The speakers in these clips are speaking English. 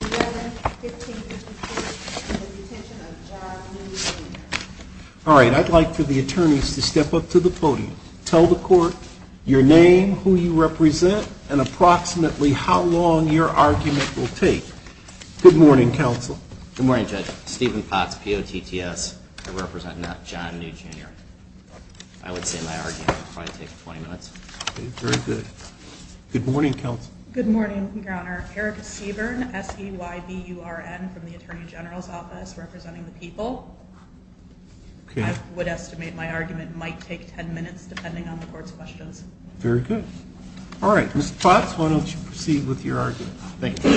All right. I'd like for the attorneys to step up to the podium. Tell the court your name, who you represent, and approximately how long your argument will take. Good morning, counsel. Good morning, Judge. Stephen Potts, P-O-T-T-S. I represent John New, Jr. I would say my argument will probably take 20 minutes. Very good. Good morning, counsel. Good morning, Your Honor. Erica Sebern, S-E-Y-B-U-R-N, from the Attorney General's Office, representing the people. I would estimate my argument might take 10 minutes, depending on the court's questions. Very good. All right. Mr. Potts, why don't you proceed with your argument. Thank you.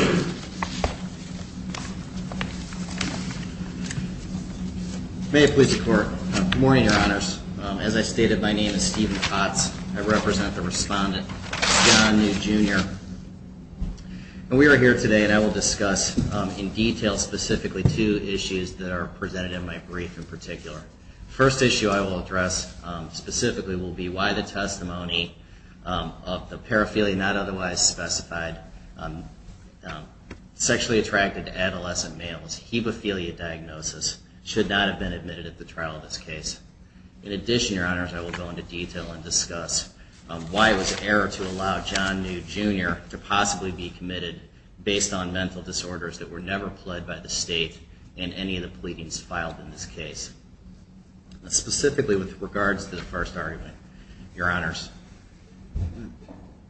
May it please the Court. Good morning, Your Honors. As I stated, my name is Stephen Potts. I represent the respondent, John New, Jr. And we are here today, and I will discuss in detail specifically two issues that are presented in my brief in particular. The first issue I will address specifically will be why the testimony of the paraphilia, not otherwise specified, sexually attracted to adolescent males, hemophilia diagnosis, should not have been admitted at the trial of this case. In addition, Your Honors, I will go into detail and discuss why it was an error to allow John New, Jr. to possibly be committed based on mental disorders that were never pled by the State in any of the pleadings filed in this case. Specifically with regards to the first argument, Your Honors,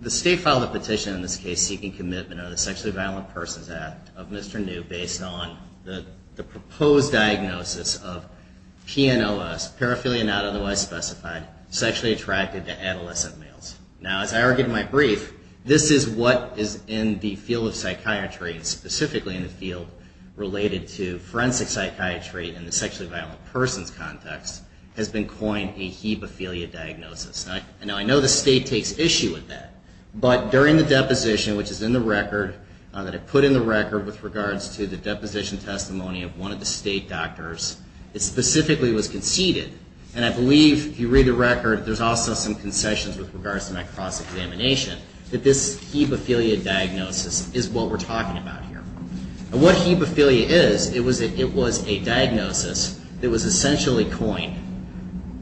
the State filed a petition in this case seeking commitment of the Sexually Violent Persons Act of Mr. New based on the proposed diagnosis of PNLS, paraphilia not otherwise specified, sexually attracted to adolescent males. Now, as I argued in my brief, this is what is in the field of psychiatry, specifically in the field related to forensic psychiatry in the sexually violent persons context, has been coined a hemophilia diagnosis. Now, I know the State takes issue with that, but during the deposition, which is in the record, that I put in the record with regards to the deposition testimony of one of the State doctors, it specifically was conceded, and I believe if you read the record, there's also some concessions with regards to my cross-examination, that this hemophilia diagnosis is what we're talking about here. And what hemophilia is, it was a diagnosis that was essentially coined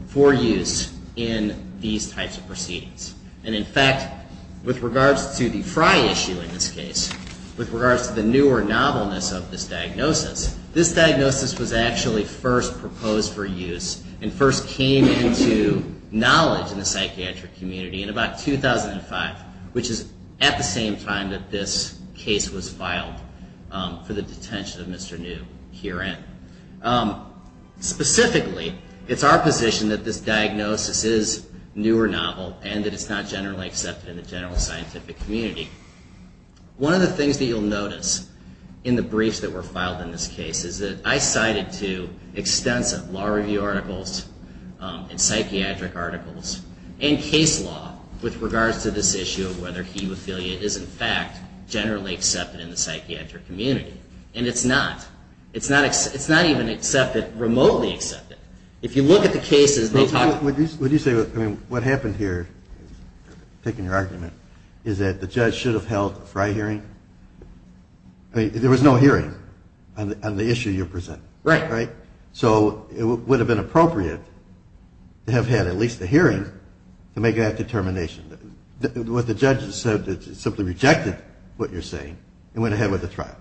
for use in these types of proceedings. And in fact, with regards to the Fry issue in this case, with regards to the newer novelness of this diagnosis, this diagnosis was actually first proposed for use and first came into knowledge in the psychiatric community in about 2005, which is at the same time that this case was filed for the detention of Mr. New herein. Specifically, it's our position that this diagnosis is newer novel and that it's not generally accepted in the general scientific community. One of the things that you'll notice in the briefs that were filed in this case is that I cited to extensive law review articles and psychiatric articles and case law with regards to this issue of whether hemophilia is in fact generally accepted in the psychiatric community. And it's not. It's not even accepted, remotely accepted. If you look at the cases, they talk... Would you say, I mean, what happened here, taking your argument, is that the judge should have held a Fry hearing? I mean, there was no hearing on the issue you're presenting. Right. Right? So it would have been appropriate to have had at least a hearing to make that determination. What the judge said is simply rejected what you're saying and went ahead with the trial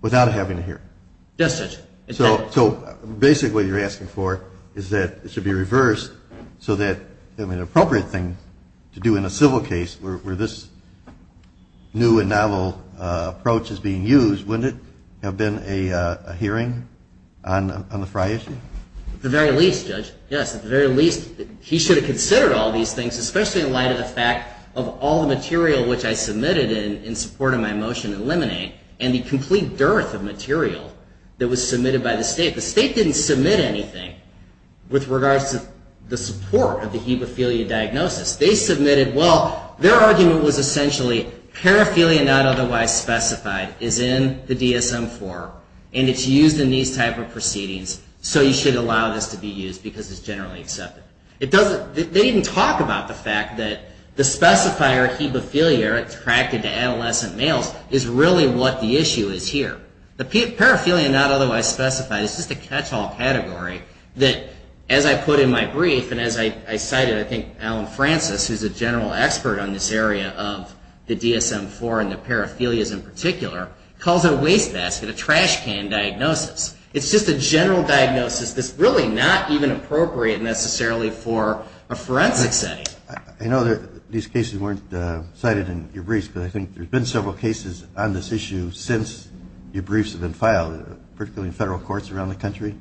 without having a hearing. Yes, Judge. So basically what you're asking for is that it should be reversed so that an appropriate thing to do in a civil case where this new and novel approach is being used, wouldn't it have been a hearing on the Fry issue? At the very least, Judge, yes, at the very least, he should have considered all these things, especially in light of the fact of all the material which I submitted in support of my motion to eliminate and the complete dearth of material that was submitted by the state. The state didn't submit anything with regards to the support of the hemophilia diagnosis. They submitted, well, their argument was essentially paraphilia not otherwise specified is in the DSM-IV and it's used in these type of proceedings. So you should allow this to be used because it's generally accepted. They didn't talk about the fact that the specifier hemophilia attracted to adolescent males is really what the issue is here. The paraphilia not otherwise specified is just a catch-all category that as I put in my brief and as I cited, I think Alan Francis, who's a general expert on this area of the DSM-IV and the paraphilias in particular, calls it a wastebasket, a trashcan diagnosis. It's just a general diagnosis that's really not even appropriate necessarily for a forensic setting. I know that these cases weren't cited in your briefs, but I think there's been several cases on this issue since your briefs have been filed, particularly in federal courts around the country.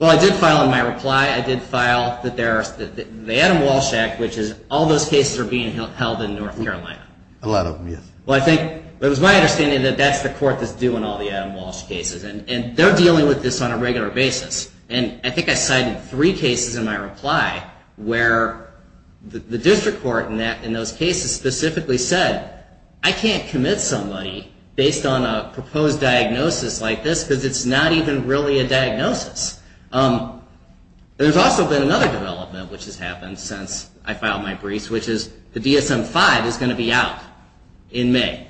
Well, I did file in my reply. I did file that the Adam Walsh Act, which is all those cases are being held in North Carolina. A lot of them, yes. Well, it was my understanding that that's the court that's doing all the Adam Walsh cases and they're dealing with this on a regular basis. And I think I cited three cases in my reply where the district court in those cases specifically said, I can't commit somebody based on a proposed diagnosis like this because it's not even really a diagnosis. There's also been another development which has happened since I filed my briefs, which is the DSM-V is going to be out in May.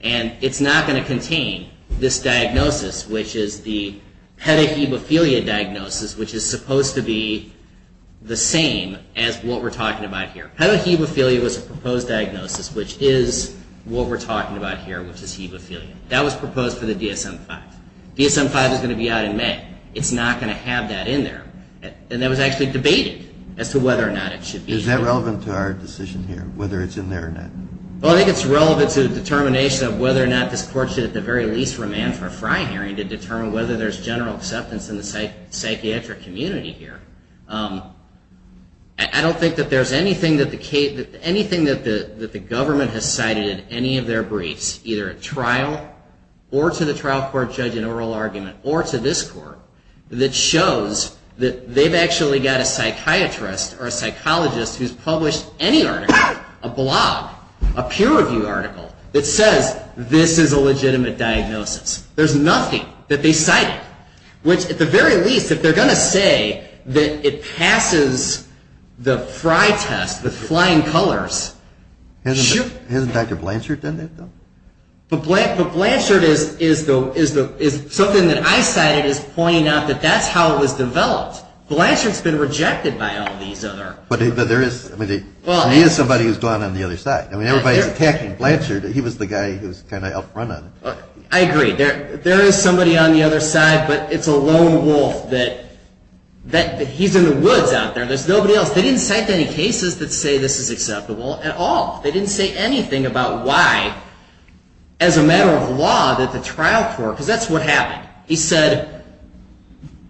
And it's not going to contain this diagnosis, which is the pedihemophilia diagnosis, which is supposed to be the same as what we're talking about here. Pedihemophilia was a proposed diagnosis, which is what we're talking about here, which is hemophilia. That was proposed for the DSM-V. DSM-V is going to be out in May. It's not going to have that in there. And that was actually debated as to whether or not it should be. Is that relevant to our decision here, whether it's in there or not? Well, I think it's relevant to the determination of whether or not this court should at the very least remand for a FRI hearing to determine whether there's general acceptance in the psychiatric community here. I don't think that there's anything that the government has cited in any of their briefs, either at trial or to the trial court judge in oral argument or to this court, that shows that they've actually got a psychiatrist or a psychologist who's published any article, a blog, a peer-reviewed article, that says this is a legitimate diagnosis. There's nothing that they cited, which at the very least, if they're going to say that it passes the FRI test, the flying colors, shoot. Hasn't Dr. Blanchard done that, though? But Blanchard is something that I cited as pointing out that that's how it was developed. Blanchard's been rejected by all these other... But there is somebody who's gone on the other side. I mean, everybody's attacking Blanchard. He was the guy who was kind of up front on it. I agree. There is somebody on the other side, but it's a lone wolf that he's in the woods out there. There's nobody else. They didn't cite any cases that say this is acceptable at all. They didn't say anything about why, as a matter of law, that the trial court... Because that's what happened. Blanchard, he said,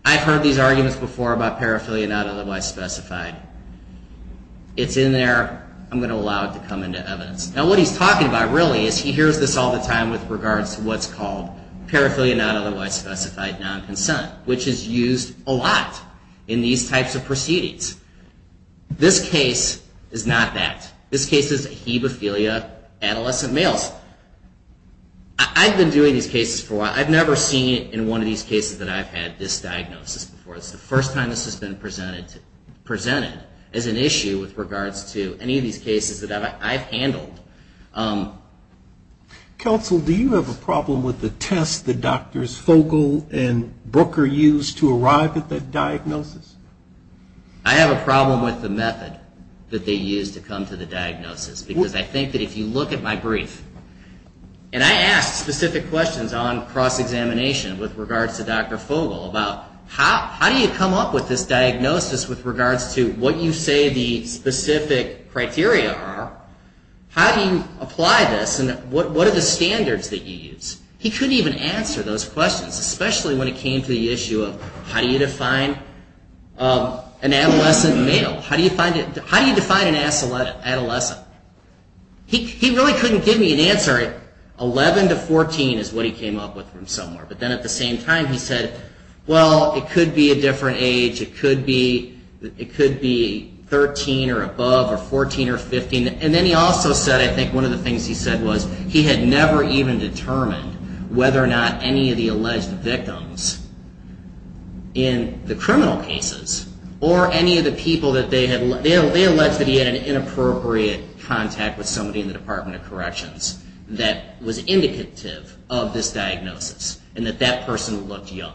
I've heard these arguments before about paraphilia not otherwise specified. It's in there. I'm going to allow it to come into evidence. Now, what he's talking about, really, is he hears this all the time with regards to what's called paraphilia not otherwise specified non-consent, which is used a lot in these types of proceedings. This case is not that. This case is ahebophilia, adolescent males. I've been doing these cases for a while. I've never seen it in one of these cases that I've had this diagnosis before. It's the first time this has been presented as an issue with regards to any of these cases that I've handled. Counsel, do you have a problem with the test that Drs. Fogel and Brooker used to arrive at the diagnosis? I have a problem with the method that they used to come to the diagnosis, because I think that if you look at my brief, and I asked specific questions on cross-examination with regards to Dr. Fogel about how do you come up with this diagnosis with regards to what you say the specific criteria are? How do you apply this, and what are the standards that you use? He couldn't even answer those questions, especially when it came to the issue of how do you define an adolescent male? How do you define an adolescent? He really couldn't give me an answer. 11 to 14 is what he came up with from somewhere. But then at the same time, he said, well, it could be a different age. It could be 13 or above, or 14 or 15. And then he also said, I think one of the things he said was, he had never even determined whether or not any of the alleged victims in the criminal cases, or any of the people that they had, they alleged that he had an inappropriate contact with somebody in the Department of Corrections that was indicative of this diagnosis, and that that person looked young.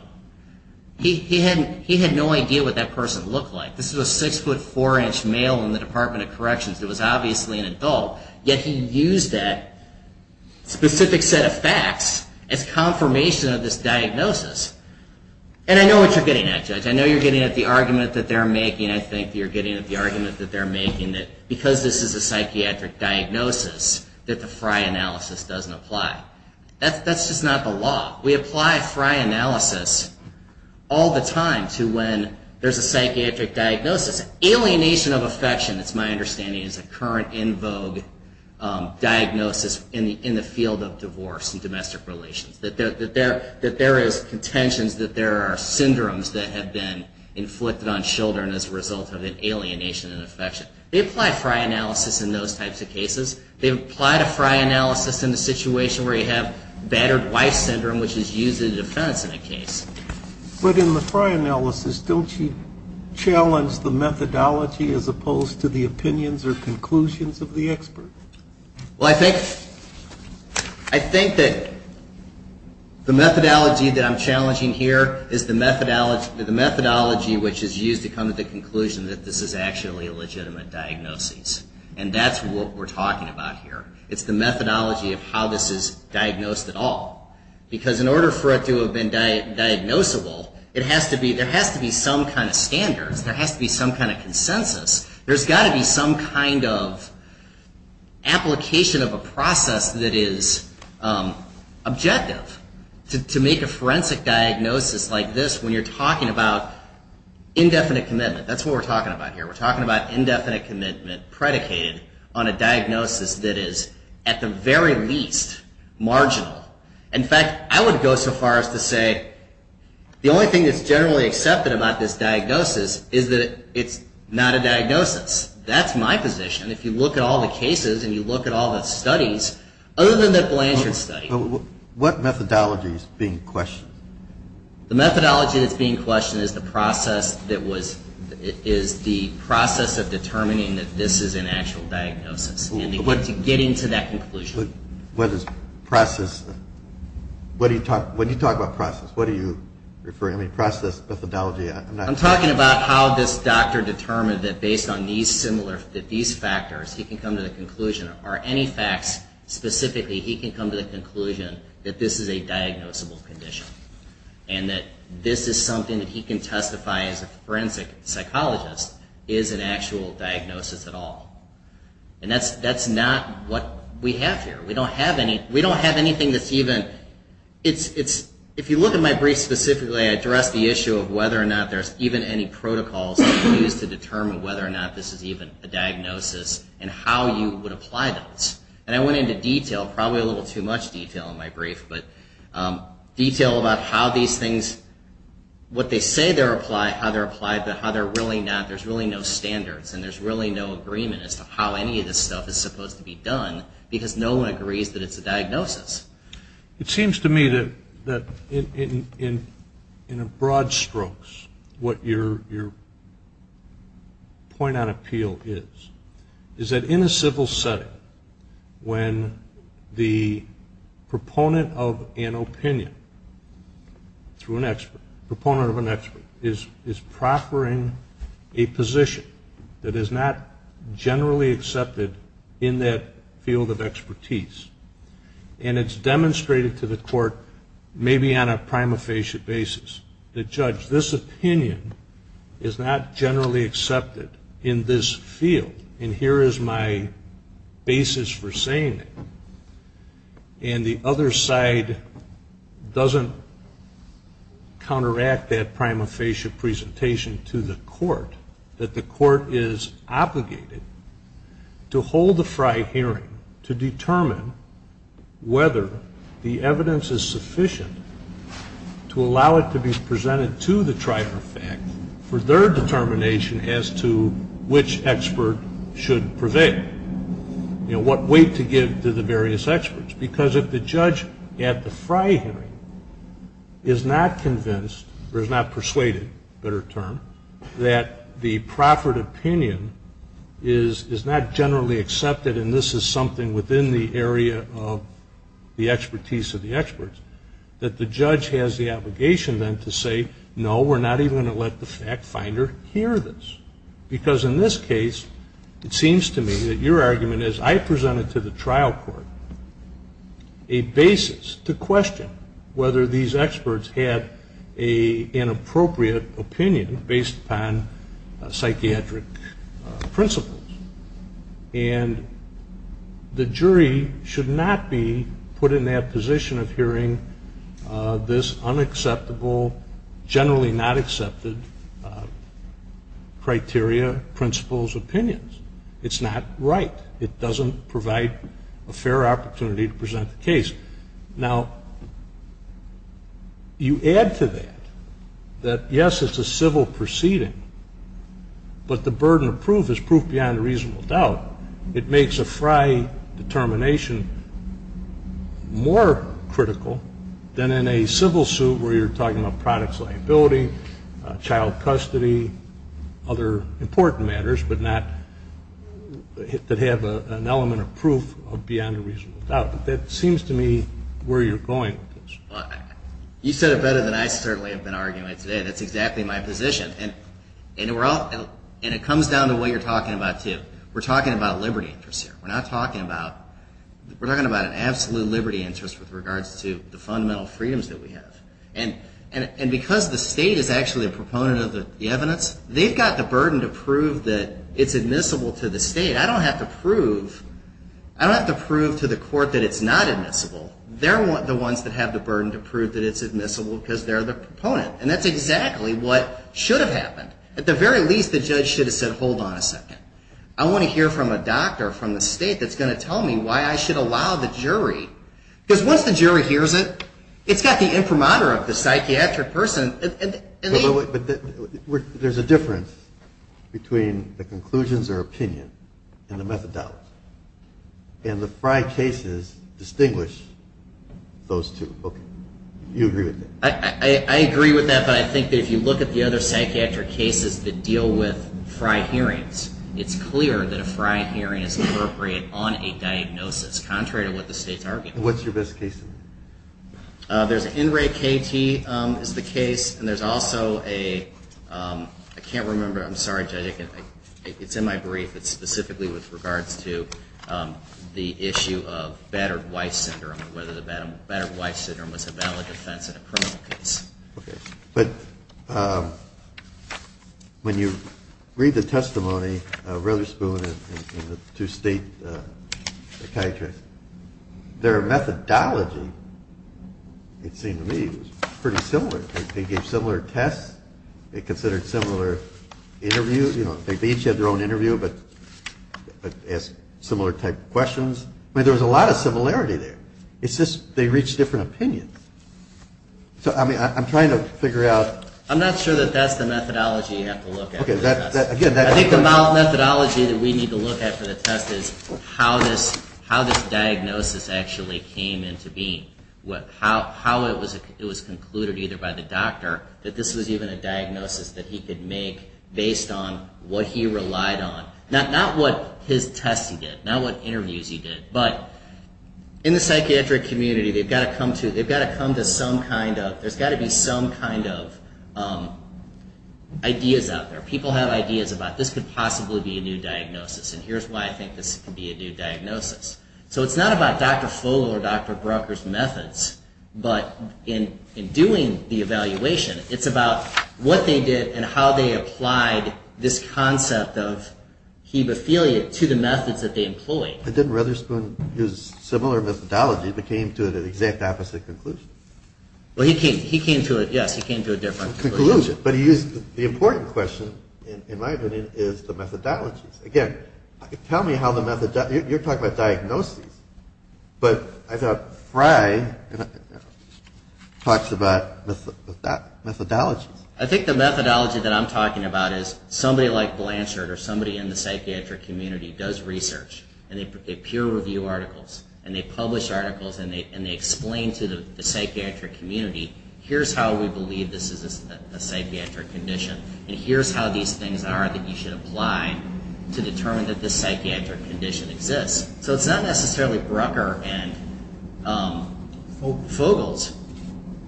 He had no idea what that person looked like. This was a 6 foot 4 inch male in the Department of Corrections that was obviously an adult, yet he used that specific set of facts as confirmation of this diagnosis. And I know what you're getting at, Judge. I know you're getting at the argument that they're making. I think you're getting at the argument that they're making, that because this is a psychiatric diagnosis, that the Frye analysis doesn't apply. That's just not the law. We apply Frye analysis all the time to when there's a psychiatric diagnosis. This alienation of affection, it's my understanding, is a current in vogue diagnosis in the field of divorce and domestic relations. That there is contentions, that there are syndromes that have been inflicted on children as a result of an alienation and affection. They apply Frye analysis in those types of cases. They apply the Frye analysis in the situation where you have battered wife syndrome, which is used in defense in a case. But in the Frye analysis, don't you challenge the methodology as opposed to the opinions or conclusions of the expert? Well, I think that the methodology that I'm challenging here is the methodology which is used to come to the conclusion that this is actually a legitimate diagnosis. And that's what we're talking about here. It's the methodology of how this is diagnosed at all. Because in order for it to have been diagnosable, there has to be some kind of standards. There has to be some kind of consensus. There's got to be some kind of application of a process that is objective to make a forensic diagnosis like this when you're talking about indefinite commitment. That's what we're talking about here. We're talking about indefinite commitment predicated on a diagnosis that is at the very least marginal. In fact, I would go so far as to say the only thing that's generally accepted about this diagnosis is that it's not a diagnosis. That's my position. If you look at all the cases and you look at all the studies, other than the Blanchard study. What methodology is being questioned? The methodology that's being questioned is the process of determining that this is an actual diagnosis and to get into that conclusion. What do you talk about process? What are you referring to? I mean process, methodology. I'm talking about how this doctor determined that based on these similar, that these factors, he can come to the conclusion. Or any facts specifically, he can come to the conclusion that this is a diagnosable condition. And that this is something that he can testify as a forensic psychologist is an actual diagnosis at all. And that's not what we have here. We don't have anything that's even, it's, if you look at my brief specifically, I address the issue of whether or not there's even any protocols that are used to determine whether or not this is even a diagnosis and how you would apply those. And I went into detail, probably a little too much detail in my brief, but detail about how these things, what they say they're applied, how they're applied, but how they're really not. There's really no standards and there's really no agreement as to how any of this stuff is supposed to be done It seems to me that in broad strokes what your point on appeal is, is that in a civil setting when the proponent of an opinion through an expert, proponent of an expert is proffering a position that is not generally accepted in that field of expertise. And it's demonstrated to the court, maybe on a prima facie basis, that judge, this opinion is not generally accepted in this field and here is my basis for saying it. And the other side doesn't counteract that prima facie presentation to the court, that the court is obligated to hold the FRI hearing to determine whether the evidence is sufficient to allow it to be presented to the trifecta for their determination as to which expert should prevail. You know, what weight to give to the various experts because if the judge at the FRI hearing is not convinced, or is not persuaded, better term, that the proffered opinion is not generally accepted and this is something within the area of the expertise of the experts, that the judge has the obligation then to say no we're not even going to let the fact finder hear this. Because in this case it seems to me that your argument is I presented to the trial court a basis to question whether these experts had an appropriate opinion based upon psychiatric principles. And the jury should not be put in that position of hearing this unacceptable, generally not accepted criteria, principles, opinions. It's not right. It doesn't provide a fair opportunity to present the case. Now, you add to that, that yes it's a civil proceeding, but the burden of proof is proof beyond a reasonable doubt. It makes a FRI determination more critical than in a civil suit where you're talking about products liability, child custody, other important matters, but not that have an element of proof beyond a reasonable doubt. That seems to me where you're going with this. You said it better than I certainly have been arguing today. That's exactly my position. And it comes down to what you're talking about too. We're talking about liberty interests here. We're not talking about an absolute liberty interest with regards to the fundamental freedoms that we have. And because the state is actually a proponent of the evidence, they've got the burden to prove that it's admissible to the state. I don't have to prove to the court that it's not admissible. They're the ones that have the burden to prove that it's admissible because they're the proponent. And that's exactly what should have happened. At the very least, the judge should have said, hold on a second. I want to hear from a doctor from the state that's going to tell me why I should allow the jury. Because once the jury hears it, it's got the imprimatur of the psychiatric person. But there's a difference between the conclusions or opinion and the methodology. And the Frye cases distinguish those two. Okay. You agree with that? I agree with that. But I think that if you look at the other psychiatric cases that deal with Frye hearings, it's clear that a Frye hearing is appropriate on a diagnosis, contrary to what the state's arguing. What's your best case? There's an NRAE-KT is the case. And there's also a ‑‑ I can't remember. I'm sorry, Judge. It's in my brief. It's specifically with regards to the issue of battered wife syndrome and whether the battered wife syndrome was a valid defense in a criminal case. Okay. But when you read the testimony of Rutherspoon and the two state psychiatrists, their methodology, it seemed to me, was pretty similar. They gave similar tests. They considered similar interviews. You know, they each had their own interview but asked similar type questions. I mean, there was a lot of similarity there. It's just they reached different opinions. So, I mean, I'm trying to figure out ‑‑ I'm not sure that that's the methodology you have to look at. Okay. How this diagnosis actually came into being. How it was concluded either by the doctor that this was even a diagnosis that he could make based on what he relied on. Not what his tests he did. Not what interviews he did. But in the psychiatric community, they've got to come to some kind of ‑‑ there's got to be some kind of ideas out there. People have ideas about this could possibly be a new diagnosis. And here's why I think this could be a new diagnosis. So it's not about Dr. Fogel or Dr. Brucker's methods. But in doing the evaluation, it's about what they did and how they applied this concept of hemophilia to the methods that they employed. But didn't Rutherspoon use similar methodology but came to an exact opposite conclusion? Well, he came to a ‑‑ yes, he came to a different conclusion. But he used the important question, in my opinion, is the methodologies. Again, tell me how the method ‑‑ you're talking about diagnoses. But I thought Frey talks about methodologies. I think the methodology that I'm talking about is somebody like Blanchard or somebody in the psychiatric community does research. And they peer review articles. And they publish articles. And they explain to the psychiatric community, here's how we believe this is a psychiatric condition. And here's how these things are that you should apply to determine that this psychiatric condition exists. So it's not necessarily Brucker and Fogel's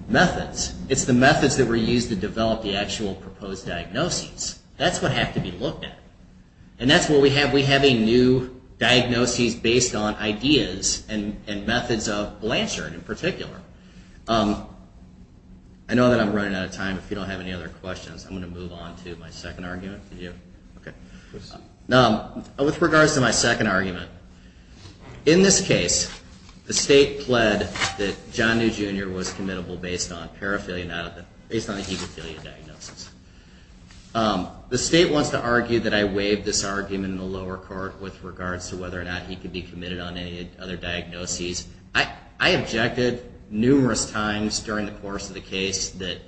methods. It's the methods that were used to develop the actual proposed diagnoses. That's what had to be looked at. And that's what we have. We have a new diagnoses based on ideas and methods of Blanchard in particular. I know that I'm running out of time. If you don't have any other questions, I'm going to move on to my second argument. With regards to my second argument, in this case, the state pled that John New Jr. was committable based on paraphilia, based on the hemophilia diagnosis. The state wants to argue that I waived this argument in the lower court with regards to whether or not he could be committed on any other diagnoses. I objected numerous times during the course of the case that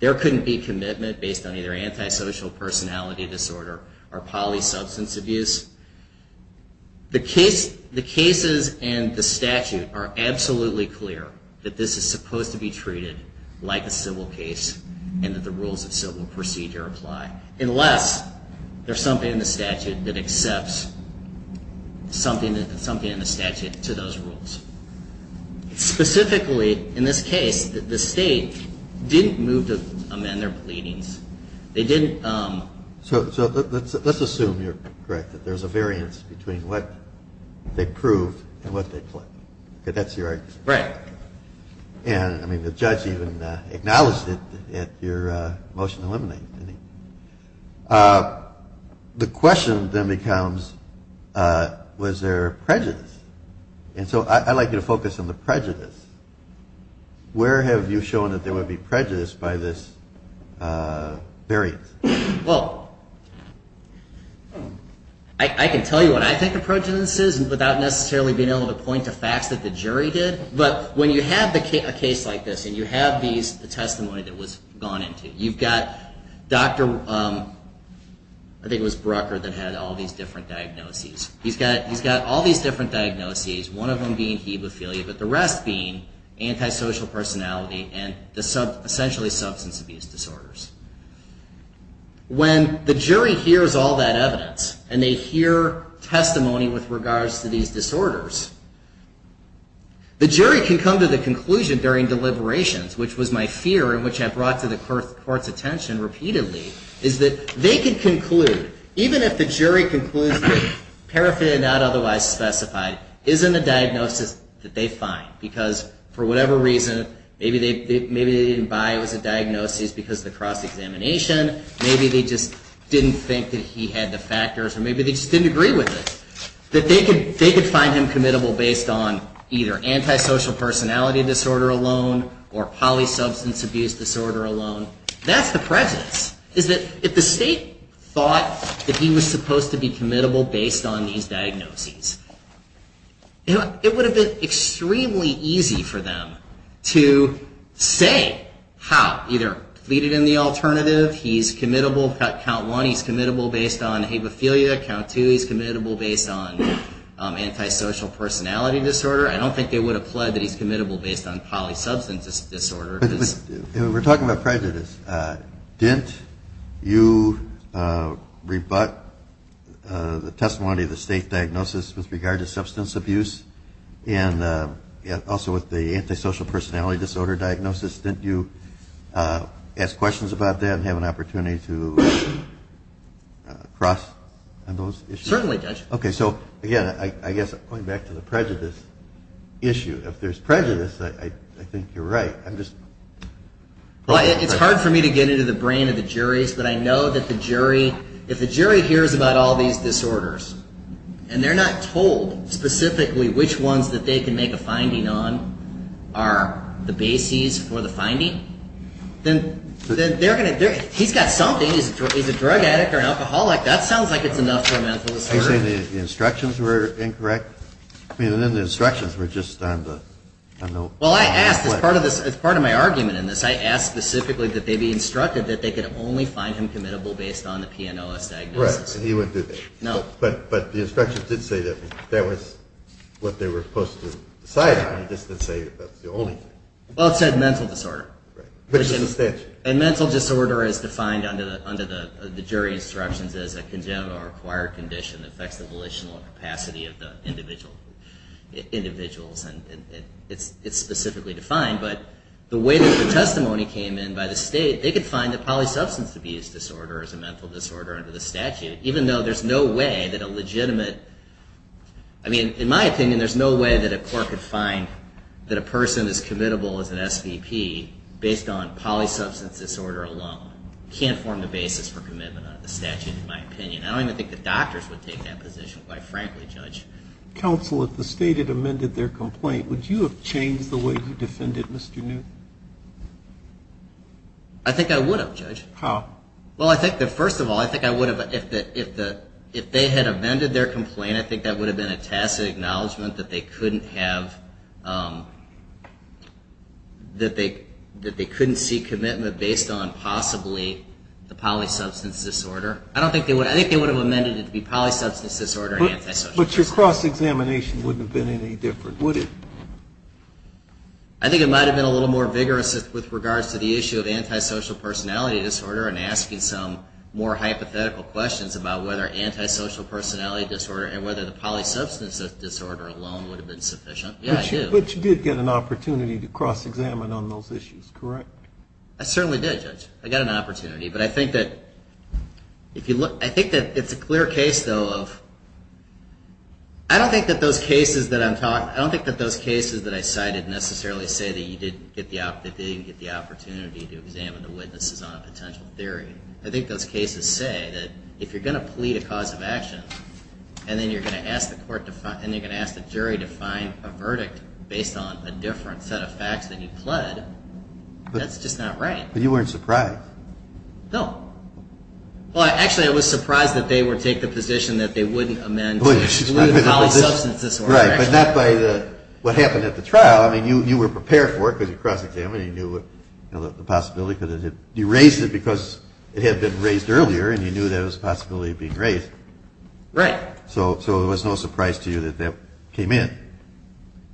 there couldn't be commitment based on either antisocial personality disorder or polysubstance abuse. The cases and the statute are absolutely clear that this is supposed to be treated like a civil case and that the rules of civil procedure apply, unless there's something in the statute that accepts something in the statute to those rules. Specifically, in this case, the state didn't move to amend their pleadings. They didn't... So let's assume you're correct, that there's a variance between what they proved and what they pled. Okay, that's your argument. Right. And, I mean, the judge even acknowledged it at your motion to eliminate. The question then becomes, was there prejudice? And so I'd like you to focus on the prejudice. Where have you shown that there would be prejudice by this variance? Well, I can tell you what I think the prejudice is without necessarily being able to point to facts that the jury did. But when you have a case like this and you have the testimony that was gone into, you've got Dr. I think it was Brucker that had all these different diagnoses. He's got all these different diagnoses, one of them being hemophilia, but the rest being antisocial personality and essentially substance abuse disorders. When the jury hears all that evidence and they hear testimony with regards to these disorders, the jury can come to the conclusion during deliberations, which was my fear and which I brought to the court's attention repeatedly, is that they could conclude, even if the jury concludes that paraphernalia not otherwise specified isn't a diagnosis that they find. Because for whatever reason, maybe they didn't buy it was a diagnosis because of the cross-examination. Maybe they just didn't think that he had the factors, or maybe they just didn't agree with it. That they could find him committable based on either antisocial personality disorder alone or polysubstance abuse disorder alone. That's the prejudice, is that if the state thought that he was supposed to be committable based on these diagnoses, it would have been extremely easy for them to say how, either plead it in the alternative, he's committable, count one, he's committable based on hemophilia, count two, he's committable based on antisocial personality disorder. I don't think they would have pled that he's committable based on polysubstance disorder. We're talking about prejudice. Didn't you rebut the testimony of the state diagnosis with regard to substance abuse and also with the antisocial personality disorder diagnosis? Didn't you ask questions about that and have an opportunity to cross on those issues? Certainly, Judge. Okay, so again, I guess going back to the prejudice issue, if there's prejudice, I think you're right. Well, it's hard for me to get into the brain of the juries, but I know that the jury, if the jury hears about all these disorders and they're not told specifically which ones that they can make a finding on are the bases for the finding, then they're going to, he's got something. He's a drug addict or an alcoholic. That sounds like it's enough for a mental disorder. Are you saying the instructions were incorrect? I mean, then the instructions were just on the note. Well, I asked. As part of my argument in this, I asked specifically that they be instructed that they could only find him committable based on the PNOS diagnosis. Right, and he wouldn't do that. No. But the instructions did say that was what they were supposed to decide on. It just didn't say that's the only thing. Well, it said mental disorder. Right. Which is the statute. And mental disorder is defined under the jury instructions as a congenital or acquired condition that affects the volitional capacity of the individuals. And it's specifically defined. But the way that the testimony came in by the state, they could find that polysubstance abuse disorder is a mental disorder under the statute, even though there's no way that a legitimate, I mean, in my opinion, there's no way that a court could find that a person is committable as an SVP based on polysubstance disorder alone. Can't form the basis for commitment under the statute, in my opinion. I don't even think the doctors would take that position, quite frankly, Judge. Counsel, if the state had amended their complaint, would you have changed the way you defended Mr. Newton? I think I would have, Judge. How? Well, I think that, first of all, I think I would have, if they had amended their complaint, I think that would have been a tacit acknowledgment that they couldn't have, that they couldn't see commitment based on possibly the polysubstance disorder. I don't think they would. I think they would have amended it to be polysubstance disorder and antisocial personality disorder. But your cross-examination wouldn't have been any different, would it? I think it might have been a little more vigorous with regards to the issue of antisocial personality disorder and asking some more hypothetical questions about whether antisocial personality disorder and whether the polysubstance disorder alone would have been sufficient. Yeah, I do. But you did get an opportunity to cross-examine on those issues, correct? I certainly did, Judge. I got an opportunity. But I think that it's a clear case, though, of I don't think that those cases that I'm talking about, I don't think that those cases that I cited necessarily say that you didn't get the opportunity to examine the witnesses on a potential theory. I think those cases say that if you're going to plead a cause of action and then you're going to ask the jury to find a verdict based on a different set of facts than you pled, that's just not right. But you weren't surprised. No. Well, actually, I was surprised that they would take the position that they wouldn't amend the polysubstance disorder. Right, but not by what happened at the trial. I mean, you were prepared for it because you cross-examined it and you knew the possibility because you raised it because it had been raised earlier and you knew there was a possibility of being raised. Right. So it was no surprise to you that that came in.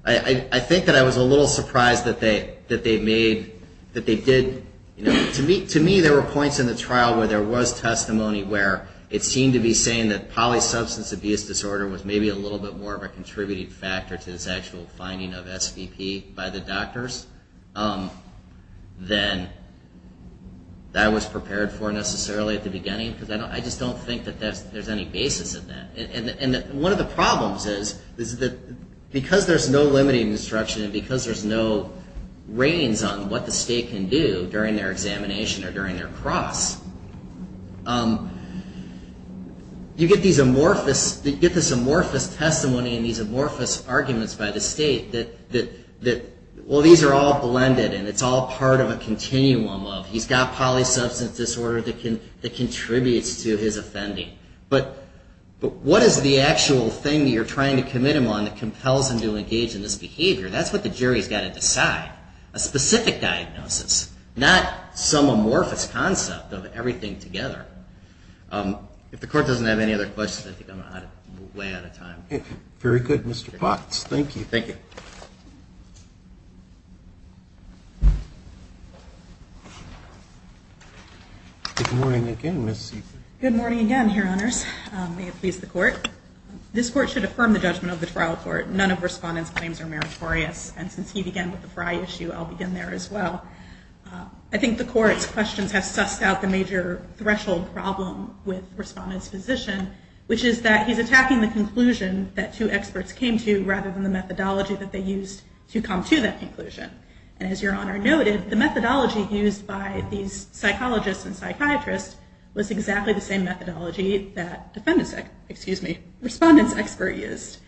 I think that I was a little surprised that they made, that they did, you know, to me there were points in the trial where there was testimony where it seemed to be saying that polysubstance abuse disorder was maybe a little bit more of a contributing factor to this actual finding of SVP by the doctors than that was prepared for necessarily at the beginning because I just don't think that there's any basis in that. And one of the problems is that because there's no limiting instruction and because there's no ratings on what the state can do during their examination or during their cross, you get this amorphous testimony and these amorphous arguments by the state that, well, these are all blended and it's all part of a continuum of he's got polysubstance disorder that contributes to his offending. But what is the actual thing that you're trying to commit him on that compels him to engage in this behavior? That's what the jury's got to decide, a specific diagnosis, not some amorphous concept of everything together. If the court doesn't have any other questions, I think I'm way out of time. Very good, Mr. Potts. Thank you. Thank you. Good morning again, Ms. Seifert. Good morning again, Your Honors. May it please the court. This court should affirm the judgment of the trial court. None of Respondent's claims are meritorious. And since he began with the Frye issue, I'll begin there as well. I think the court's questions have sussed out the major threshold problem with Respondent's position, which is that he's attacking the conclusion that two experts came to rather than the methodology that they used to come to that conclusion. And as Your Honor noted, the methodology used by these psychologists and psychiatrists was exactly the same methodology that Respondent's expert used.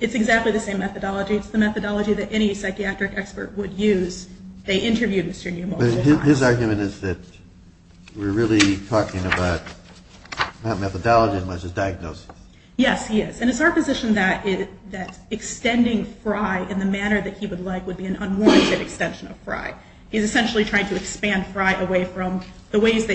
It's exactly the same methodology. It's the methodology that any psychiatric expert would use. They interviewed Mr. Neumolzer. But his argument is that we're really talking about that methodology versus diagnosis. Yes, he is. And it's our position that extending Frye in the manner that he would like would be an unwarranted extension of Frye. He's essentially trying to expand Frye away from the ways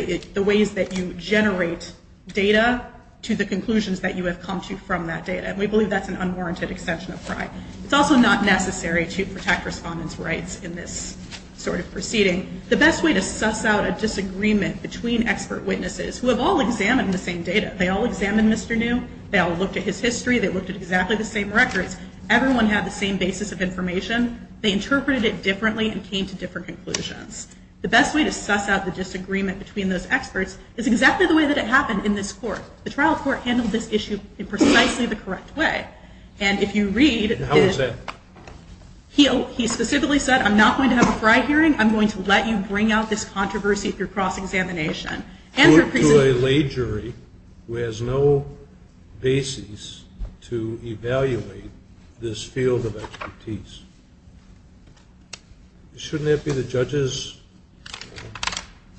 that you generate data to the conclusions that you have come to from that data. And we believe that's an unwarranted extension of Frye. It's also not necessary to protect Respondent's rights in this sort of proceeding. The best way to suss out a disagreement between expert witnesses, who have all examined the same data, they all examined Mr. Neum, they all looked at his history, they looked at exactly the same records, everyone had the same basis of information, they interpreted it differently and came to different conclusions. The best way to suss out the disagreement between those experts is exactly the way that it happened in this court. The trial court handled this issue in precisely the correct way. And if you read, he specifically said, I'm not going to have a Frye hearing, I'm going to let you bring out this controversy through cross-examination. Put to a lay jury who has no basis to evaluate this field of expertise. Shouldn't that be the judge's?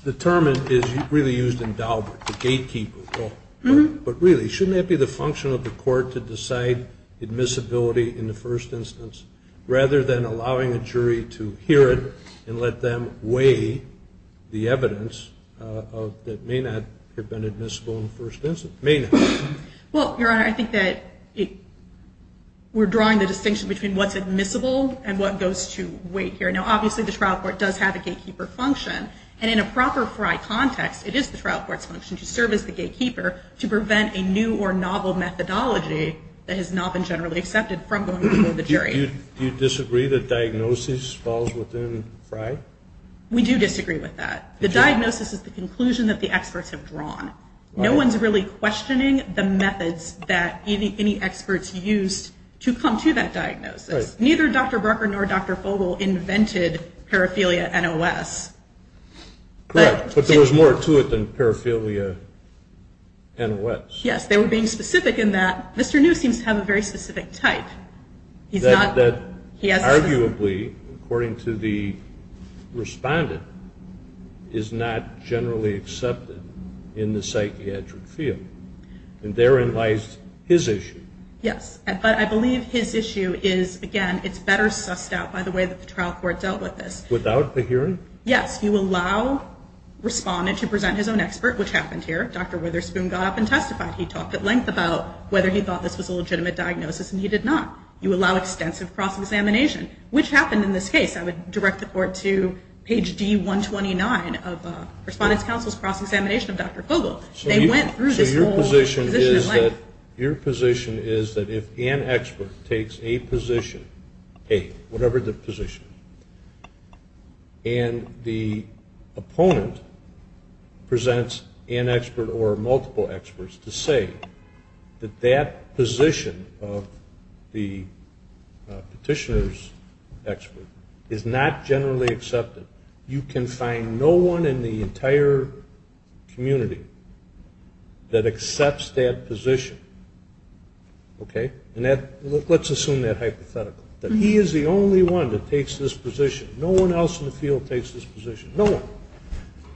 The term is really used in Daubert, the gatekeeper. But really, shouldn't that be the function of the court to decide admissibility in the first instance, rather than allowing a jury to hear it and let them weigh the evidence that may not have been admissible in the first instance? May not. Well, Your Honor, I think that we're drawing the distinction between what's admissible and what goes to weight here. Now, obviously, the trial court does have a gatekeeper function. And in a proper Frye context, it is the trial court's function to serve as the gatekeeper to prevent a new or novel methodology that has not been generally accepted from going before the jury. Do you disagree that diagnosis falls within Frye? We do disagree with that. The diagnosis is the conclusion that the experts have drawn. No one's really questioning the methods that any experts used to come to that diagnosis. Neither Dr. Brucker nor Dr. Fogel invented paraphilia NOS. But there was more to it than paraphilia NOS. Yes, they were being specific in that Mr. New seems to have a very specific type. That arguably, according to the respondent, is not generally accepted in the psychiatric field. And therein lies his issue. Yes. But I believe his issue is, again, it's better sussed out by the way that the trial court dealt with this. Without a hearing? Yes. You allow a respondent to present his own expert, which happened here. Dr. Witherspoon got up and testified. He talked at length about whether he thought this was a legitimate diagnosis, and he did not. You allow extensive cross-examination, which happened in this case. I would direct the court to page D129 of Respondent's Counsel's cross-examination of Dr. Fogel. They went through this whole position at length. So your position is that if an expert takes a position, A, whatever the position, and the opponent presents an expert or multiple experts to say that that position of the petitioner's expert is not generally accepted, you can find no one in the entire community that accepts that position, okay? Let's assume that hypothetically, that he is the only one that takes this position. No one else in the field takes this position. No one.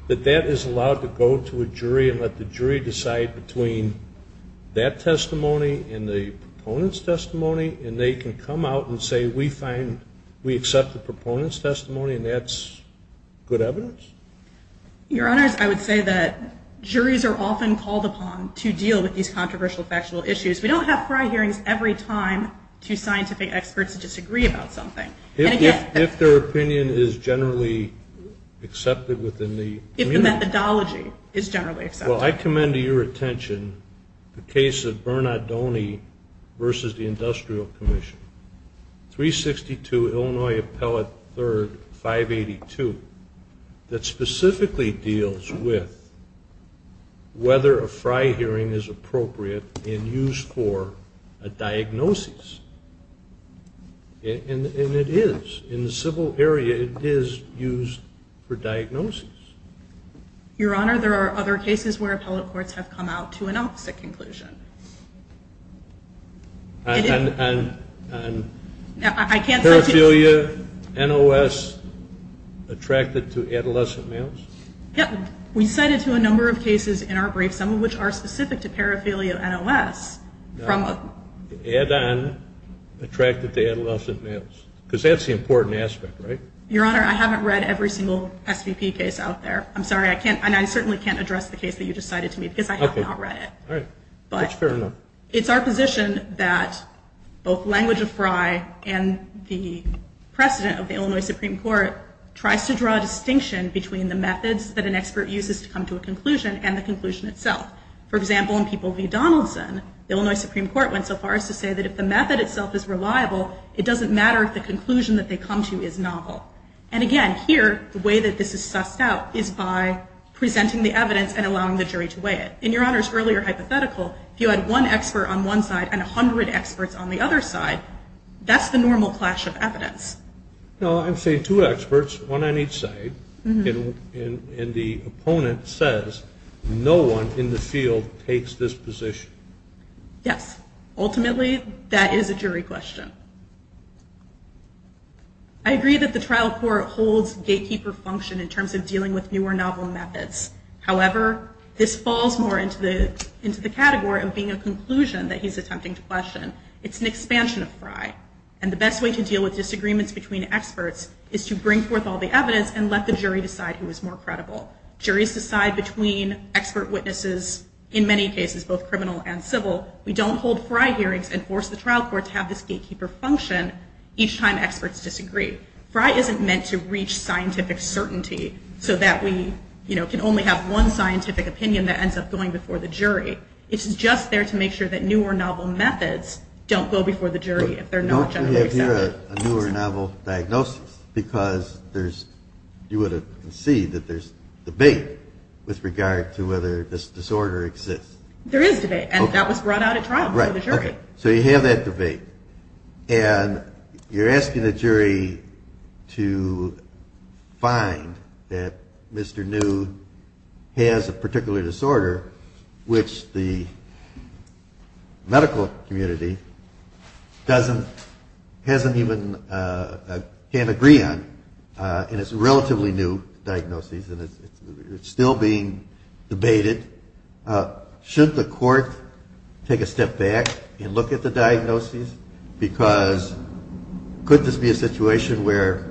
That that is allowed to go to a jury and let the jury decide between that testimony and the proponent's testimony, and they can come out and say, We accept the proponent's testimony, and that's good evidence? Your Honors, I would say that juries are often called upon to deal with these controversial factual issues. We don't have FRI hearings every time two scientific experts disagree about something. If their opinion is generally accepted within the community. If the methodology is generally accepted. Well, I commend to your attention the case of Bernadone versus the Industrial Commission, 362 Illinois Appellate 3rd, 582, that specifically deals with whether a FRI hearing is appropriate and used for a diagnosis. And it is. In the civil area, it is used for diagnosis. Your Honor, there are other cases where appellate courts have come out to an opposite conclusion. On paraphernalia, NOS, attracted to adolescent males? Yeah. We cited to a number of cases in our brief, some of which are specific to paraphernalia NOS. Add-on attracted to adolescent males. Because that's the important aspect, right? Your Honor, I haven't read every single SVP case out there. I'm sorry. I can't. And I certainly can't address the case that you just cited to me because I have not read it. All right. That's fair enough. But it's our position that both language of FRI and the precedent of the Illinois Supreme Court tries to draw a distinction between the methods that an expert uses to come to a conclusion and the conclusion itself. For example, in People v. Donaldson, the Illinois Supreme Court went so far as to say that if the method itself is reliable, it doesn't matter if the conclusion that they come to is novel. And again, here, the way that this is sussed out is by presenting the evidence and allowing the jury to weigh it. In Your Honor's earlier hypothetical, if you had one expert on one side and 100 experts on the other side, that's the normal clash of evidence. No, I'm saying two experts, one on each side, and the opponent says no one in the field takes this position. Yes. Ultimately, that is a jury question. I agree that the trial court holds gatekeeper function in terms of dealing with newer novel methods. However, this falls more into the category of being a conclusion that he's attempting to question. It's an expansion of FRI. And the best way to deal with disagreements between experts is to bring forth all the evidence and let the jury decide who is more credible. Juries decide between expert witnesses, in many cases, both criminal and civil. We don't hold FRI hearings and force the trial court to have this gatekeeper function each time experts disagree. FRI isn't meant to reach scientific certainty so that we, you know, can only have one scientific opinion that ends up going before the jury. It's just there to make sure that newer novel methods don't go before the jury if they're not generally accepted. You have here a newer novel diagnosis because there's, you would have conceded that there's debate with regard to whether this disorder exists. There is debate, and that was brought out at trial before the jury. So you have that debate, and you're asking the jury to find that Mr. New has a particular disorder which the medical community doesn't, hasn't even, can't agree on. And it's a relatively new diagnosis, and it's still being debated. Shouldn't the court take a step back and look at the diagnosis? Because could this be a situation where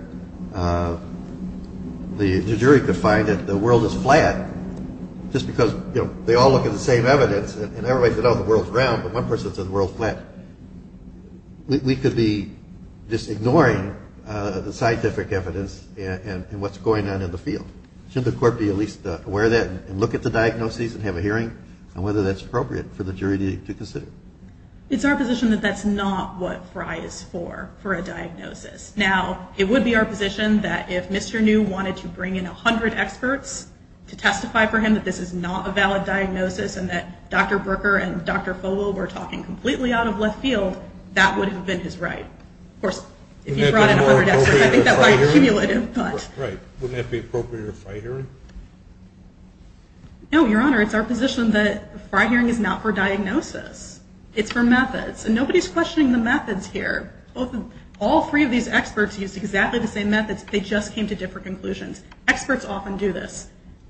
the jury could find that the world is flat just because, you know, they all look at the same evidence, and everybody said, oh, the world's round, but one person said the world's flat. We could be just ignoring the scientific evidence and what's going on in the field. Shouldn't the court be at least aware of that and look at the diagnosis and have a hearing on whether that's appropriate for the jury to consider? It's our position that that's not what Frye is for, for a diagnosis. Now, it would be our position that if Mr. New wanted to bring in 100 experts to testify for him that this is not a valid diagnosis and that Dr. Brooker and Dr. Fogel were talking completely out of left field, that would have been his right. Of course, if he brought in 100 experts, I think that would have accumulated. Right. Wouldn't that be appropriate for a Frye hearing? No, Your Honor. It's our position that a Frye hearing is not for diagnosis. It's for methods. And nobody's questioning the methods here. All three of these experts used exactly the same methods. They just came to different conclusions. Experts often do this.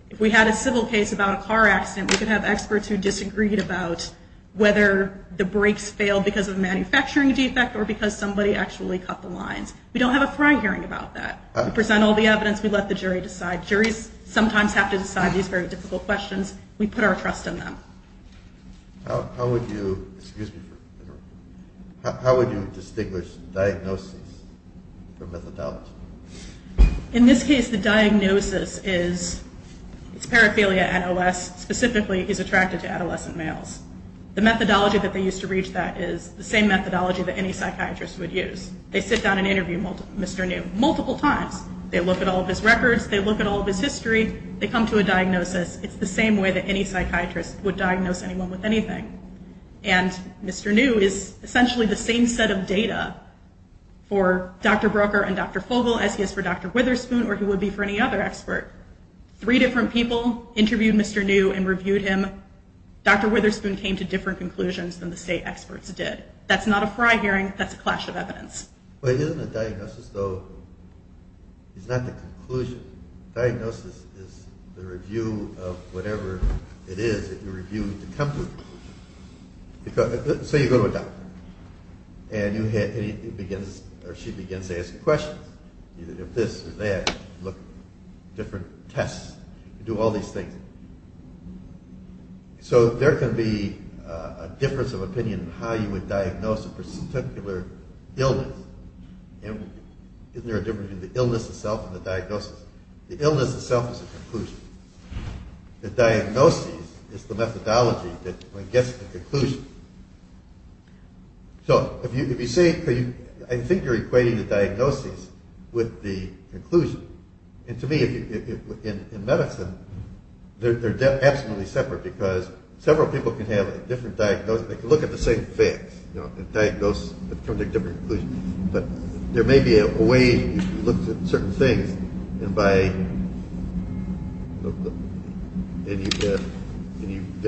If we had a civil case about a car accident, we could have experts who disagreed about whether the brakes failed because of a manufacturing defect or because somebody actually cut the lines. We don't have a Frye hearing about that. We present all the evidence. We let the jury decide. Juries sometimes have to decide these very difficult questions. We put our trust in them. How would you distinguish diagnosis from methodology? In this case, the diagnosis is paraphilia NOS specifically is attracted to adolescent males. The methodology that they used to reach that is the same methodology that any psychiatrist would use. They sit down and interview Mr. New multiple times. They look at all of his records. They look at all of his history. They come to a diagnosis. It's the same way that any psychiatrist would diagnose anyone with anything. And Mr. New is essentially the same set of data for Dr. Broeker and Dr. Fogle as he is for Dr. Witherspoon or he would be for any other expert. Three different people interviewed Mr. New and reviewed him. Dr. Witherspoon came to different conclusions than the state experts did. That's not a fry hearing. That's a clash of evidence. But isn't a diagnosis, though, it's not the conclusion. Diagnosis is the review of whatever it is that you reviewed to come to. So you go to a doctor and she begins to ask questions. If this or that, look, different tests. You do all these things. So there can be a difference of opinion in how you would diagnose a particular illness. Isn't there a difference between the illness itself and the diagnosis? The illness itself is a conclusion. The diagnosis is the methodology that gets the conclusion. So if you say, I think you're equating the diagnosis with the conclusion. And to me, in medicine, they're absolutely separate because several people can have a different diagnosis. They can look at the same facts and diagnose and come to a different conclusion. But there may be a way if you look at certain things, there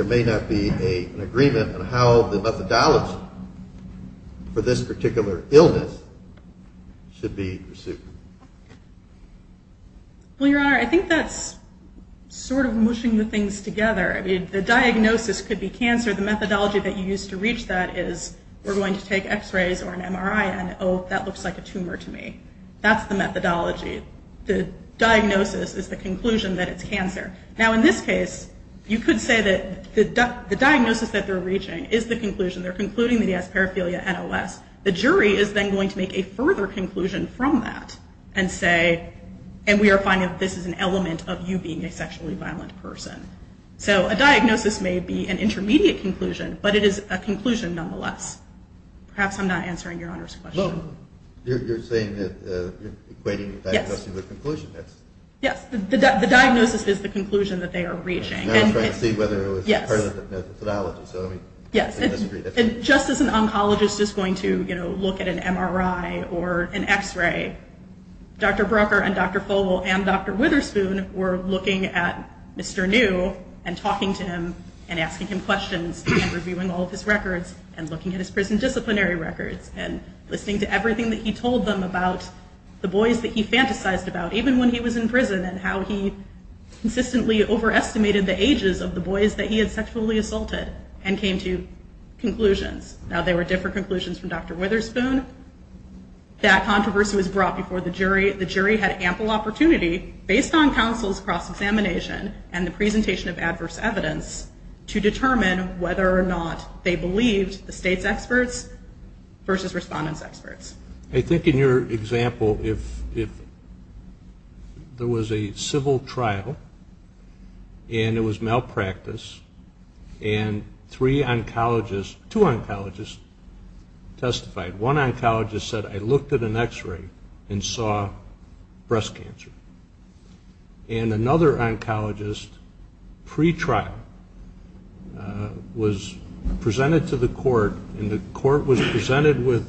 may not be an agreement on how the methodology for this particular illness should be pursued. Well, Your Honor, I think that's sort of mushing the things together. I mean, the diagnosis could be cancer. The methodology that you use to reach that is we're going to take x-rays or an MRI and, oh, that looks like a tumor to me. That's the methodology. The diagnosis is the conclusion that it's cancer. Now, in this case, you could say that the diagnosis that they're reaching is the conclusion. They're concluding that he has paraphilia NOS. The jury is then going to make a further conclusion from that and say, and we are finding that this is an element of you being a sexually violent person. So a diagnosis may be an intermediate conclusion, but it is a conclusion nonetheless. Perhaps I'm not answering Your Honor's question. Well, you're saying that you're equating the diagnosis with the conclusion. Yes, the diagnosis is the conclusion that they are reaching. I was trying to see whether it was part of the methodology. Yes, and just as an oncologist is going to look at an MRI or an x-ray, Dr. Broecker and Dr. Fogel and Dr. Witherspoon were looking at Mr. New and talking to him and asking him questions and reviewing all of his records and looking at his prison disciplinary records and listening to everything that he told them about the boys that he fantasized about, even when he was in prison and how he consistently overestimated the ages of the boys that he had sexually assaulted and came to conclusions. Now, they were different conclusions from Dr. Witherspoon. That controversy was brought before the jury. The jury had ample opportunity, based on counsel's cross-examination and the presentation of adverse evidence, to determine whether or not they believed the state's experts versus respondents' experts. I think in your example, if there was a civil trial and it was malpractice and two oncologists testified. One oncologist said, I looked at an x-ray and saw breast cancer. And another oncologist, pre-trial, was presented to the court, and the court was presented with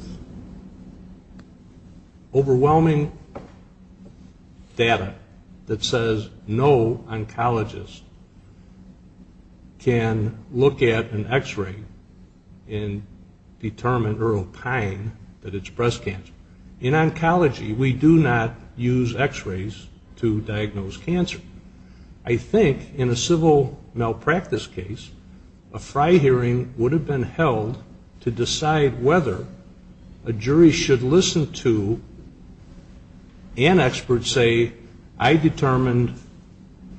overwhelming data that says no oncologist can look at an x-ray and determine or opine that it's breast cancer. In oncology, we do not use x-rays to diagnose cancer. I think in a civil malpractice case, a FRI hearing would have been held to decide whether a jury should listen to an expert say, I determined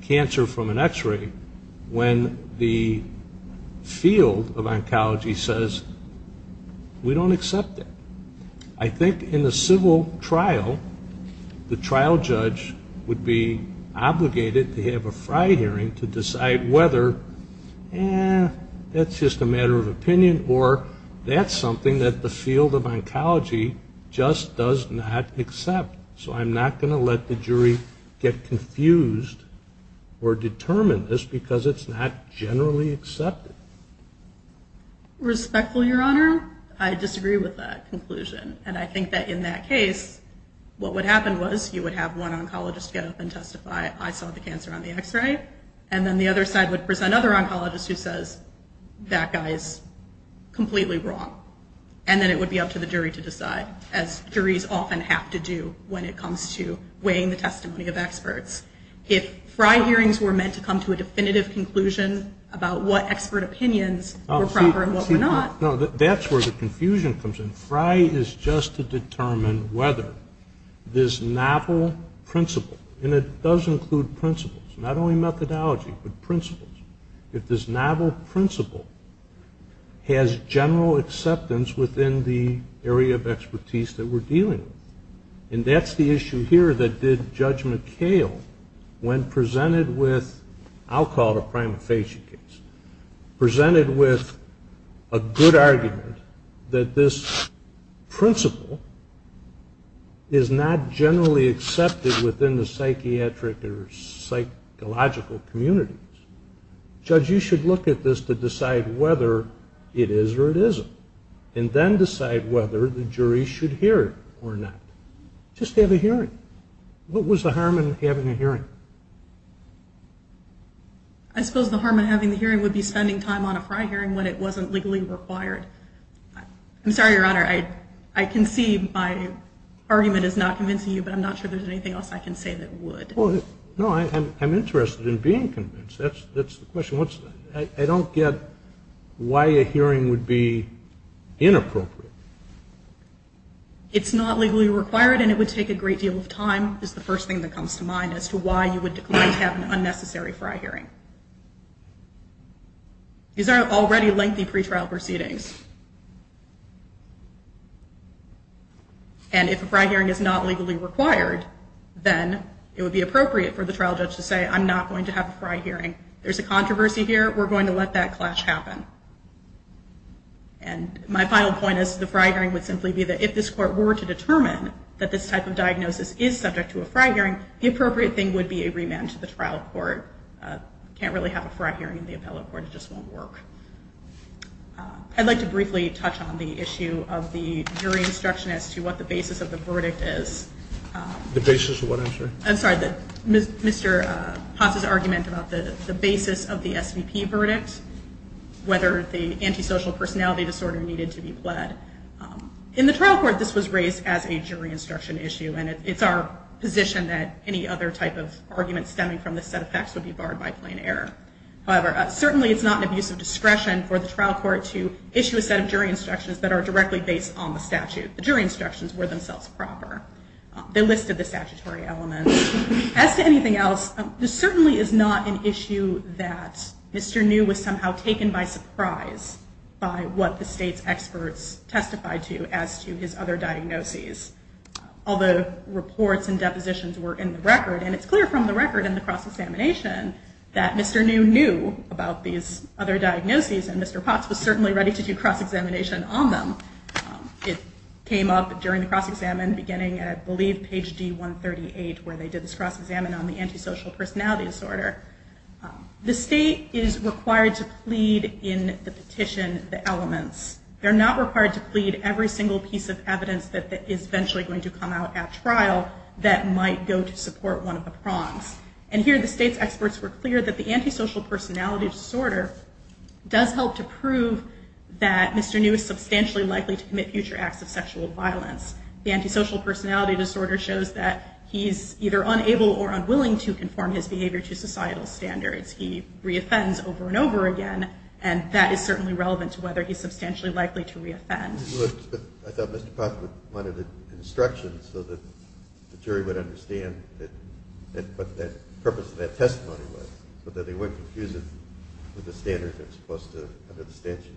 cancer from an x-ray, when the field of oncology says, we don't accept that. I think in a civil trial, the trial judge would be obligated to have a FRI hearing to decide whether that's just a matter of opinion or that's something that the field of oncology just does not accept. So I'm not going to let the jury get confused or determine this because it's not generally accepted. Respectfully, Your Honor, I disagree with that conclusion. And I think that in that case, what would happen was you would have one oncologist get up and testify, I saw the cancer on the x-ray, and then the other side would present another oncologist who says, that guy is completely wrong. And then it would be up to the jury to decide, as juries often have to do when it comes to weighing the testimony of experts. If FRI hearings were meant to come to a definitive conclusion about what expert opinions were proper and what were not. That's where the confusion comes in. FRI is just to determine whether this novel principle, and it does include principles, not only methodology, but principles, if this novel principle has general acceptance within the area of expertise that we're dealing with. And that's the issue here that did Judge McHale, when presented with, I'll call it a prima facie case, presented with a good argument that this principle is not generally accepted within the psychiatric or psychological communities. Judge, you should look at this to decide whether it is or it isn't. And then decide whether the jury should hear it or not. Just have a hearing. What was the harm in having a hearing? I suppose the harm in having the hearing would be spending time on a FRI hearing when it wasn't legally required. I'm sorry, Your Honor, I can see my argument is not convincing you, but I'm not sure there's anything else I can say that would. No, I'm interested in being convinced. That's the question. I don't get why a hearing would be inappropriate. It's not legally required and it would take a great deal of time is the first thing that comes to mind as to why you would have an unnecessary FRI hearing. These are already lengthy pretrial proceedings. And if a FRI hearing is not legally required, then it would be appropriate for the trial judge to say, I'm not going to have a FRI hearing. There's a controversy here. We're going to let that clash happen. And my final point is the FRI hearing would simply be that if this court were to determine that this type of diagnosis is subject to a FRI hearing, the appropriate thing would be agreement to the trial court. You can't really have a FRI hearing in the appellate court. It just won't work. I'd like to briefly touch on the issue of the jury instruction as to what the basis of the verdict is. The basis of what, I'm sorry? I'm sorry, Mr. Potts' argument about the basis of the SVP verdict, whether the antisocial personality disorder needed to be pled. In the trial court, this was raised as a jury instruction issue, and it's our position that any other type of argument stemming from this set of facts would be barred by plain error. However, certainly it's not an abuse of discretion for the trial court to issue a set of jury instructions that are directly based on the statute. The jury instructions were themselves proper. They listed the statutory elements. As to anything else, this certainly is not an issue that Mr. New was somehow taken by surprise by what the state's experts testified to as to his other diagnoses. All the reports and depositions were in the record, and it's clear from the record in the cross-examination that Mr. New knew about these other diagnoses, and Mr. Potts was certainly ready to do cross-examination on them. It came up during the cross-examination beginning, I believe, page D138, where they did this cross-examination on the antisocial personality disorder. The state is required to plead in the petition the elements. They're not required to plead every single piece of evidence that is eventually going to come out at trial that might go to support one of the prongs. And here the state's experts were clear that the antisocial personality disorder does help to prove that Mr. New is substantially likely to commit future acts of sexual violence. The antisocial personality disorder shows that he's either unable or unwilling to conform his behavior to societal standards. He reoffends over and over again, and that is certainly relevant to whether he's substantially likely to reoffend. But I thought Mr. Potts wanted instructions so that the jury would understand what the purpose of that testimony was, so that they wouldn't confuse it with the standard that's supposed to under the statute.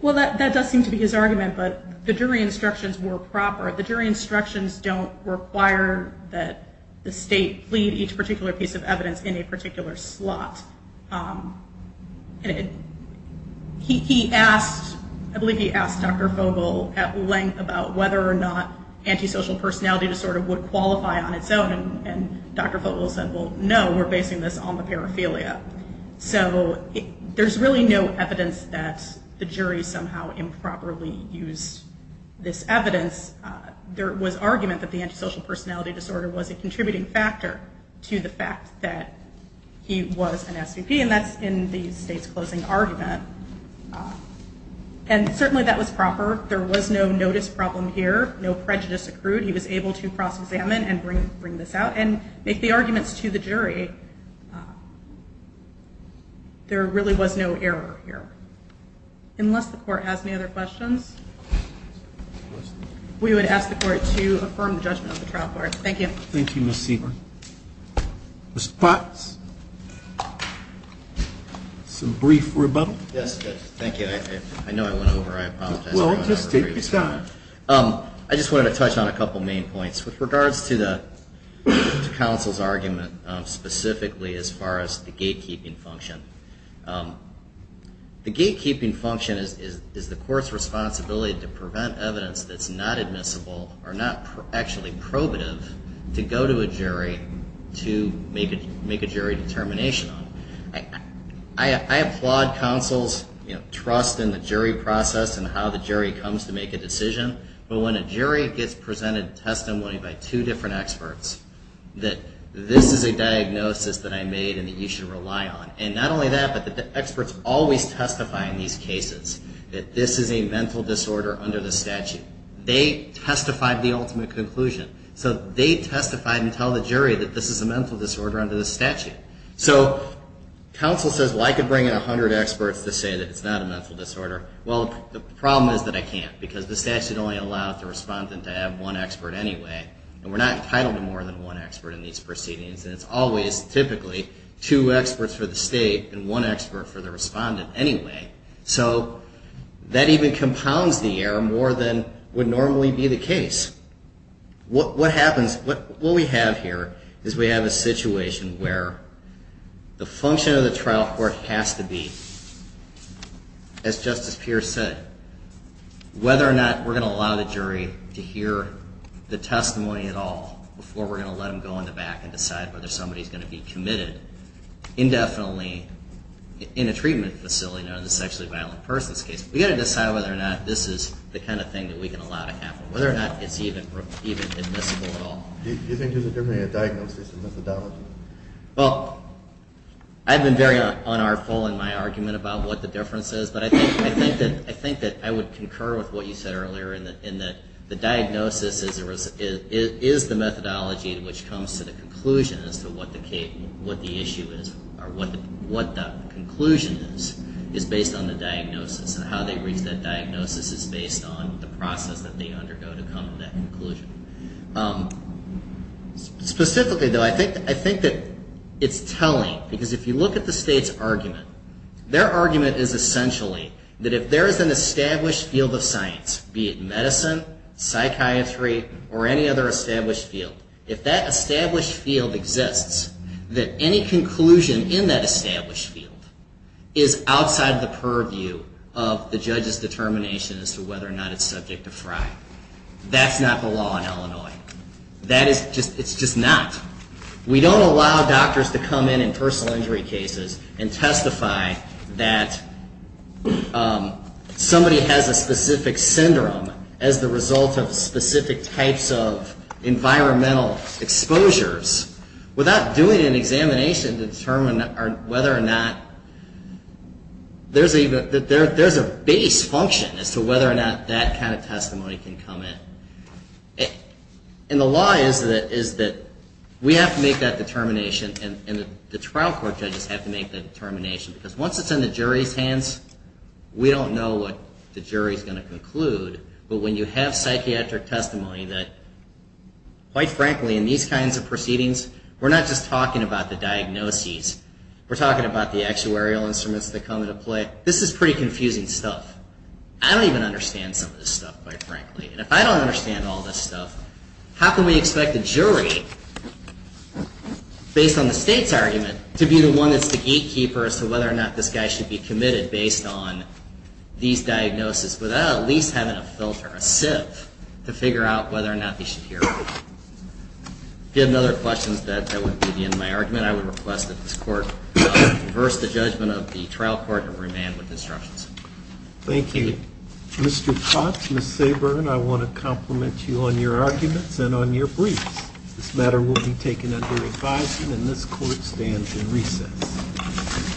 Well, that does seem to be his argument, but the jury instructions were proper. The jury instructions don't require that the state plead each particular piece of evidence in a particular slot. He asked, I believe he asked Dr. Fogel at length about whether or not antisocial personality disorder would qualify on its own, and Dr. Fogel said, well, no, we're basing this on the paraphilia. So there's really no evidence that the jury somehow improperly used this evidence. There was argument that the antisocial personality disorder was a contributing factor to the fact that he was an SVP, and that's in the state's closing argument. And certainly that was proper. There was no notice problem here. No prejudice accrued. He was able to cross-examine and bring this out and make the arguments to the jury. There really was no error here. Unless the Court has any other questions, we would ask the Court to affirm the judgment of the trial court. Thank you. Thank you, Ms. Segal. Mr. Potts, some brief rebuttal. Yes, thank you. I know I went over. I apologize. Well, just take your time. I just wanted to touch on a couple main points. With regards to counsel's argument, specifically as far as the gatekeeping function, the gatekeeping function is the court's responsibility to prevent evidence that's not admissible or not actually probative to go to a jury to make a jury determination on it. I applaud counsel's trust in the jury process and how the jury comes to make a decision, but when a jury gets presented a testimony by two different experts, that this is a diagnosis that I made and that you should rely on. And not only that, but the experts always testify in these cases that this is a mental disorder under the statute. They testified the ultimate conclusion. So they testified and tell the jury that this is a mental disorder under the statute. So counsel says, well, I could bring in 100 experts to say that it's not a mental disorder. Well, the problem is that I can't because the statute only allowed the respondent to have one expert anyway. And we're not entitled to more than one expert in these proceedings. And it's always typically two experts for the state and one expert for the respondent anyway. So that even compounds the error more than would normally be the case. What happens, what we have here is we have a situation where the function of the trial court has to be, as Justice Pierce said, whether or not we're going to allow the jury to hear the testimony at all before we're going to let them go in the back and decide whether somebody's going to be committed indefinitely in a treatment facility known as a sexually violent person's case. We've got to decide whether or not this is the kind of thing that we can allow to happen, whether or not it's even admissible at all. Do you think there's a difference between a diagnosis and methodology? Well, I've been very unartful in my argument about what the difference is, but I think that I would concur with what you said earlier in that the diagnosis is the methodology which comes to the conclusion as to what the issue is or what the conclusion is is based on the diagnosis. And how they reach that diagnosis is based on the process that they undergo to come to that conclusion. Specifically, though, I think that it's telling because if you look at the state's argument, their argument is essentially that if there is an established field of science, be it medicine, psychiatry, or any other established field, if that established field exists, that any conclusion in that established field is outside the purview of the judge's determination as to whether or not it's subject to FRI. That's not the law in Illinois. It's just not. We don't allow doctors to come in in personal injury cases and testify that somebody has a specific syndrome as the result of specific types of environmental exposures without doing an examination to determine whether or not there's a base function as to whether or not that kind of testimony can come in. And the law is that we have to make that determination and the trial court judges have to make that determination because once it's in the jury's hands, we don't know what the jury's going to conclude. But when you have psychiatric testimony that, quite frankly, in these kinds of proceedings, we're not just talking about the diagnoses. We're talking about the actuarial instruments that come into play. This is pretty confusing stuff. I don't even understand some of this stuff, quite frankly. And if I don't understand all this stuff, how can we expect a jury, based on the state's argument, to be the one that's the gatekeeper as to whether or not this guy should be committed based on these diagnoses without at least having a filter, a SIF, to figure out whether or not they should hear it. If you have other questions, that would be the end of my argument. I would request that this court reverse the judgment of the trial court and remand with instructions. Thank you. Mr. Potts, Ms. Sabourn, I want to compliment you on your arguments and on your briefs. This matter will be taken under advisement, and this court stands in recess.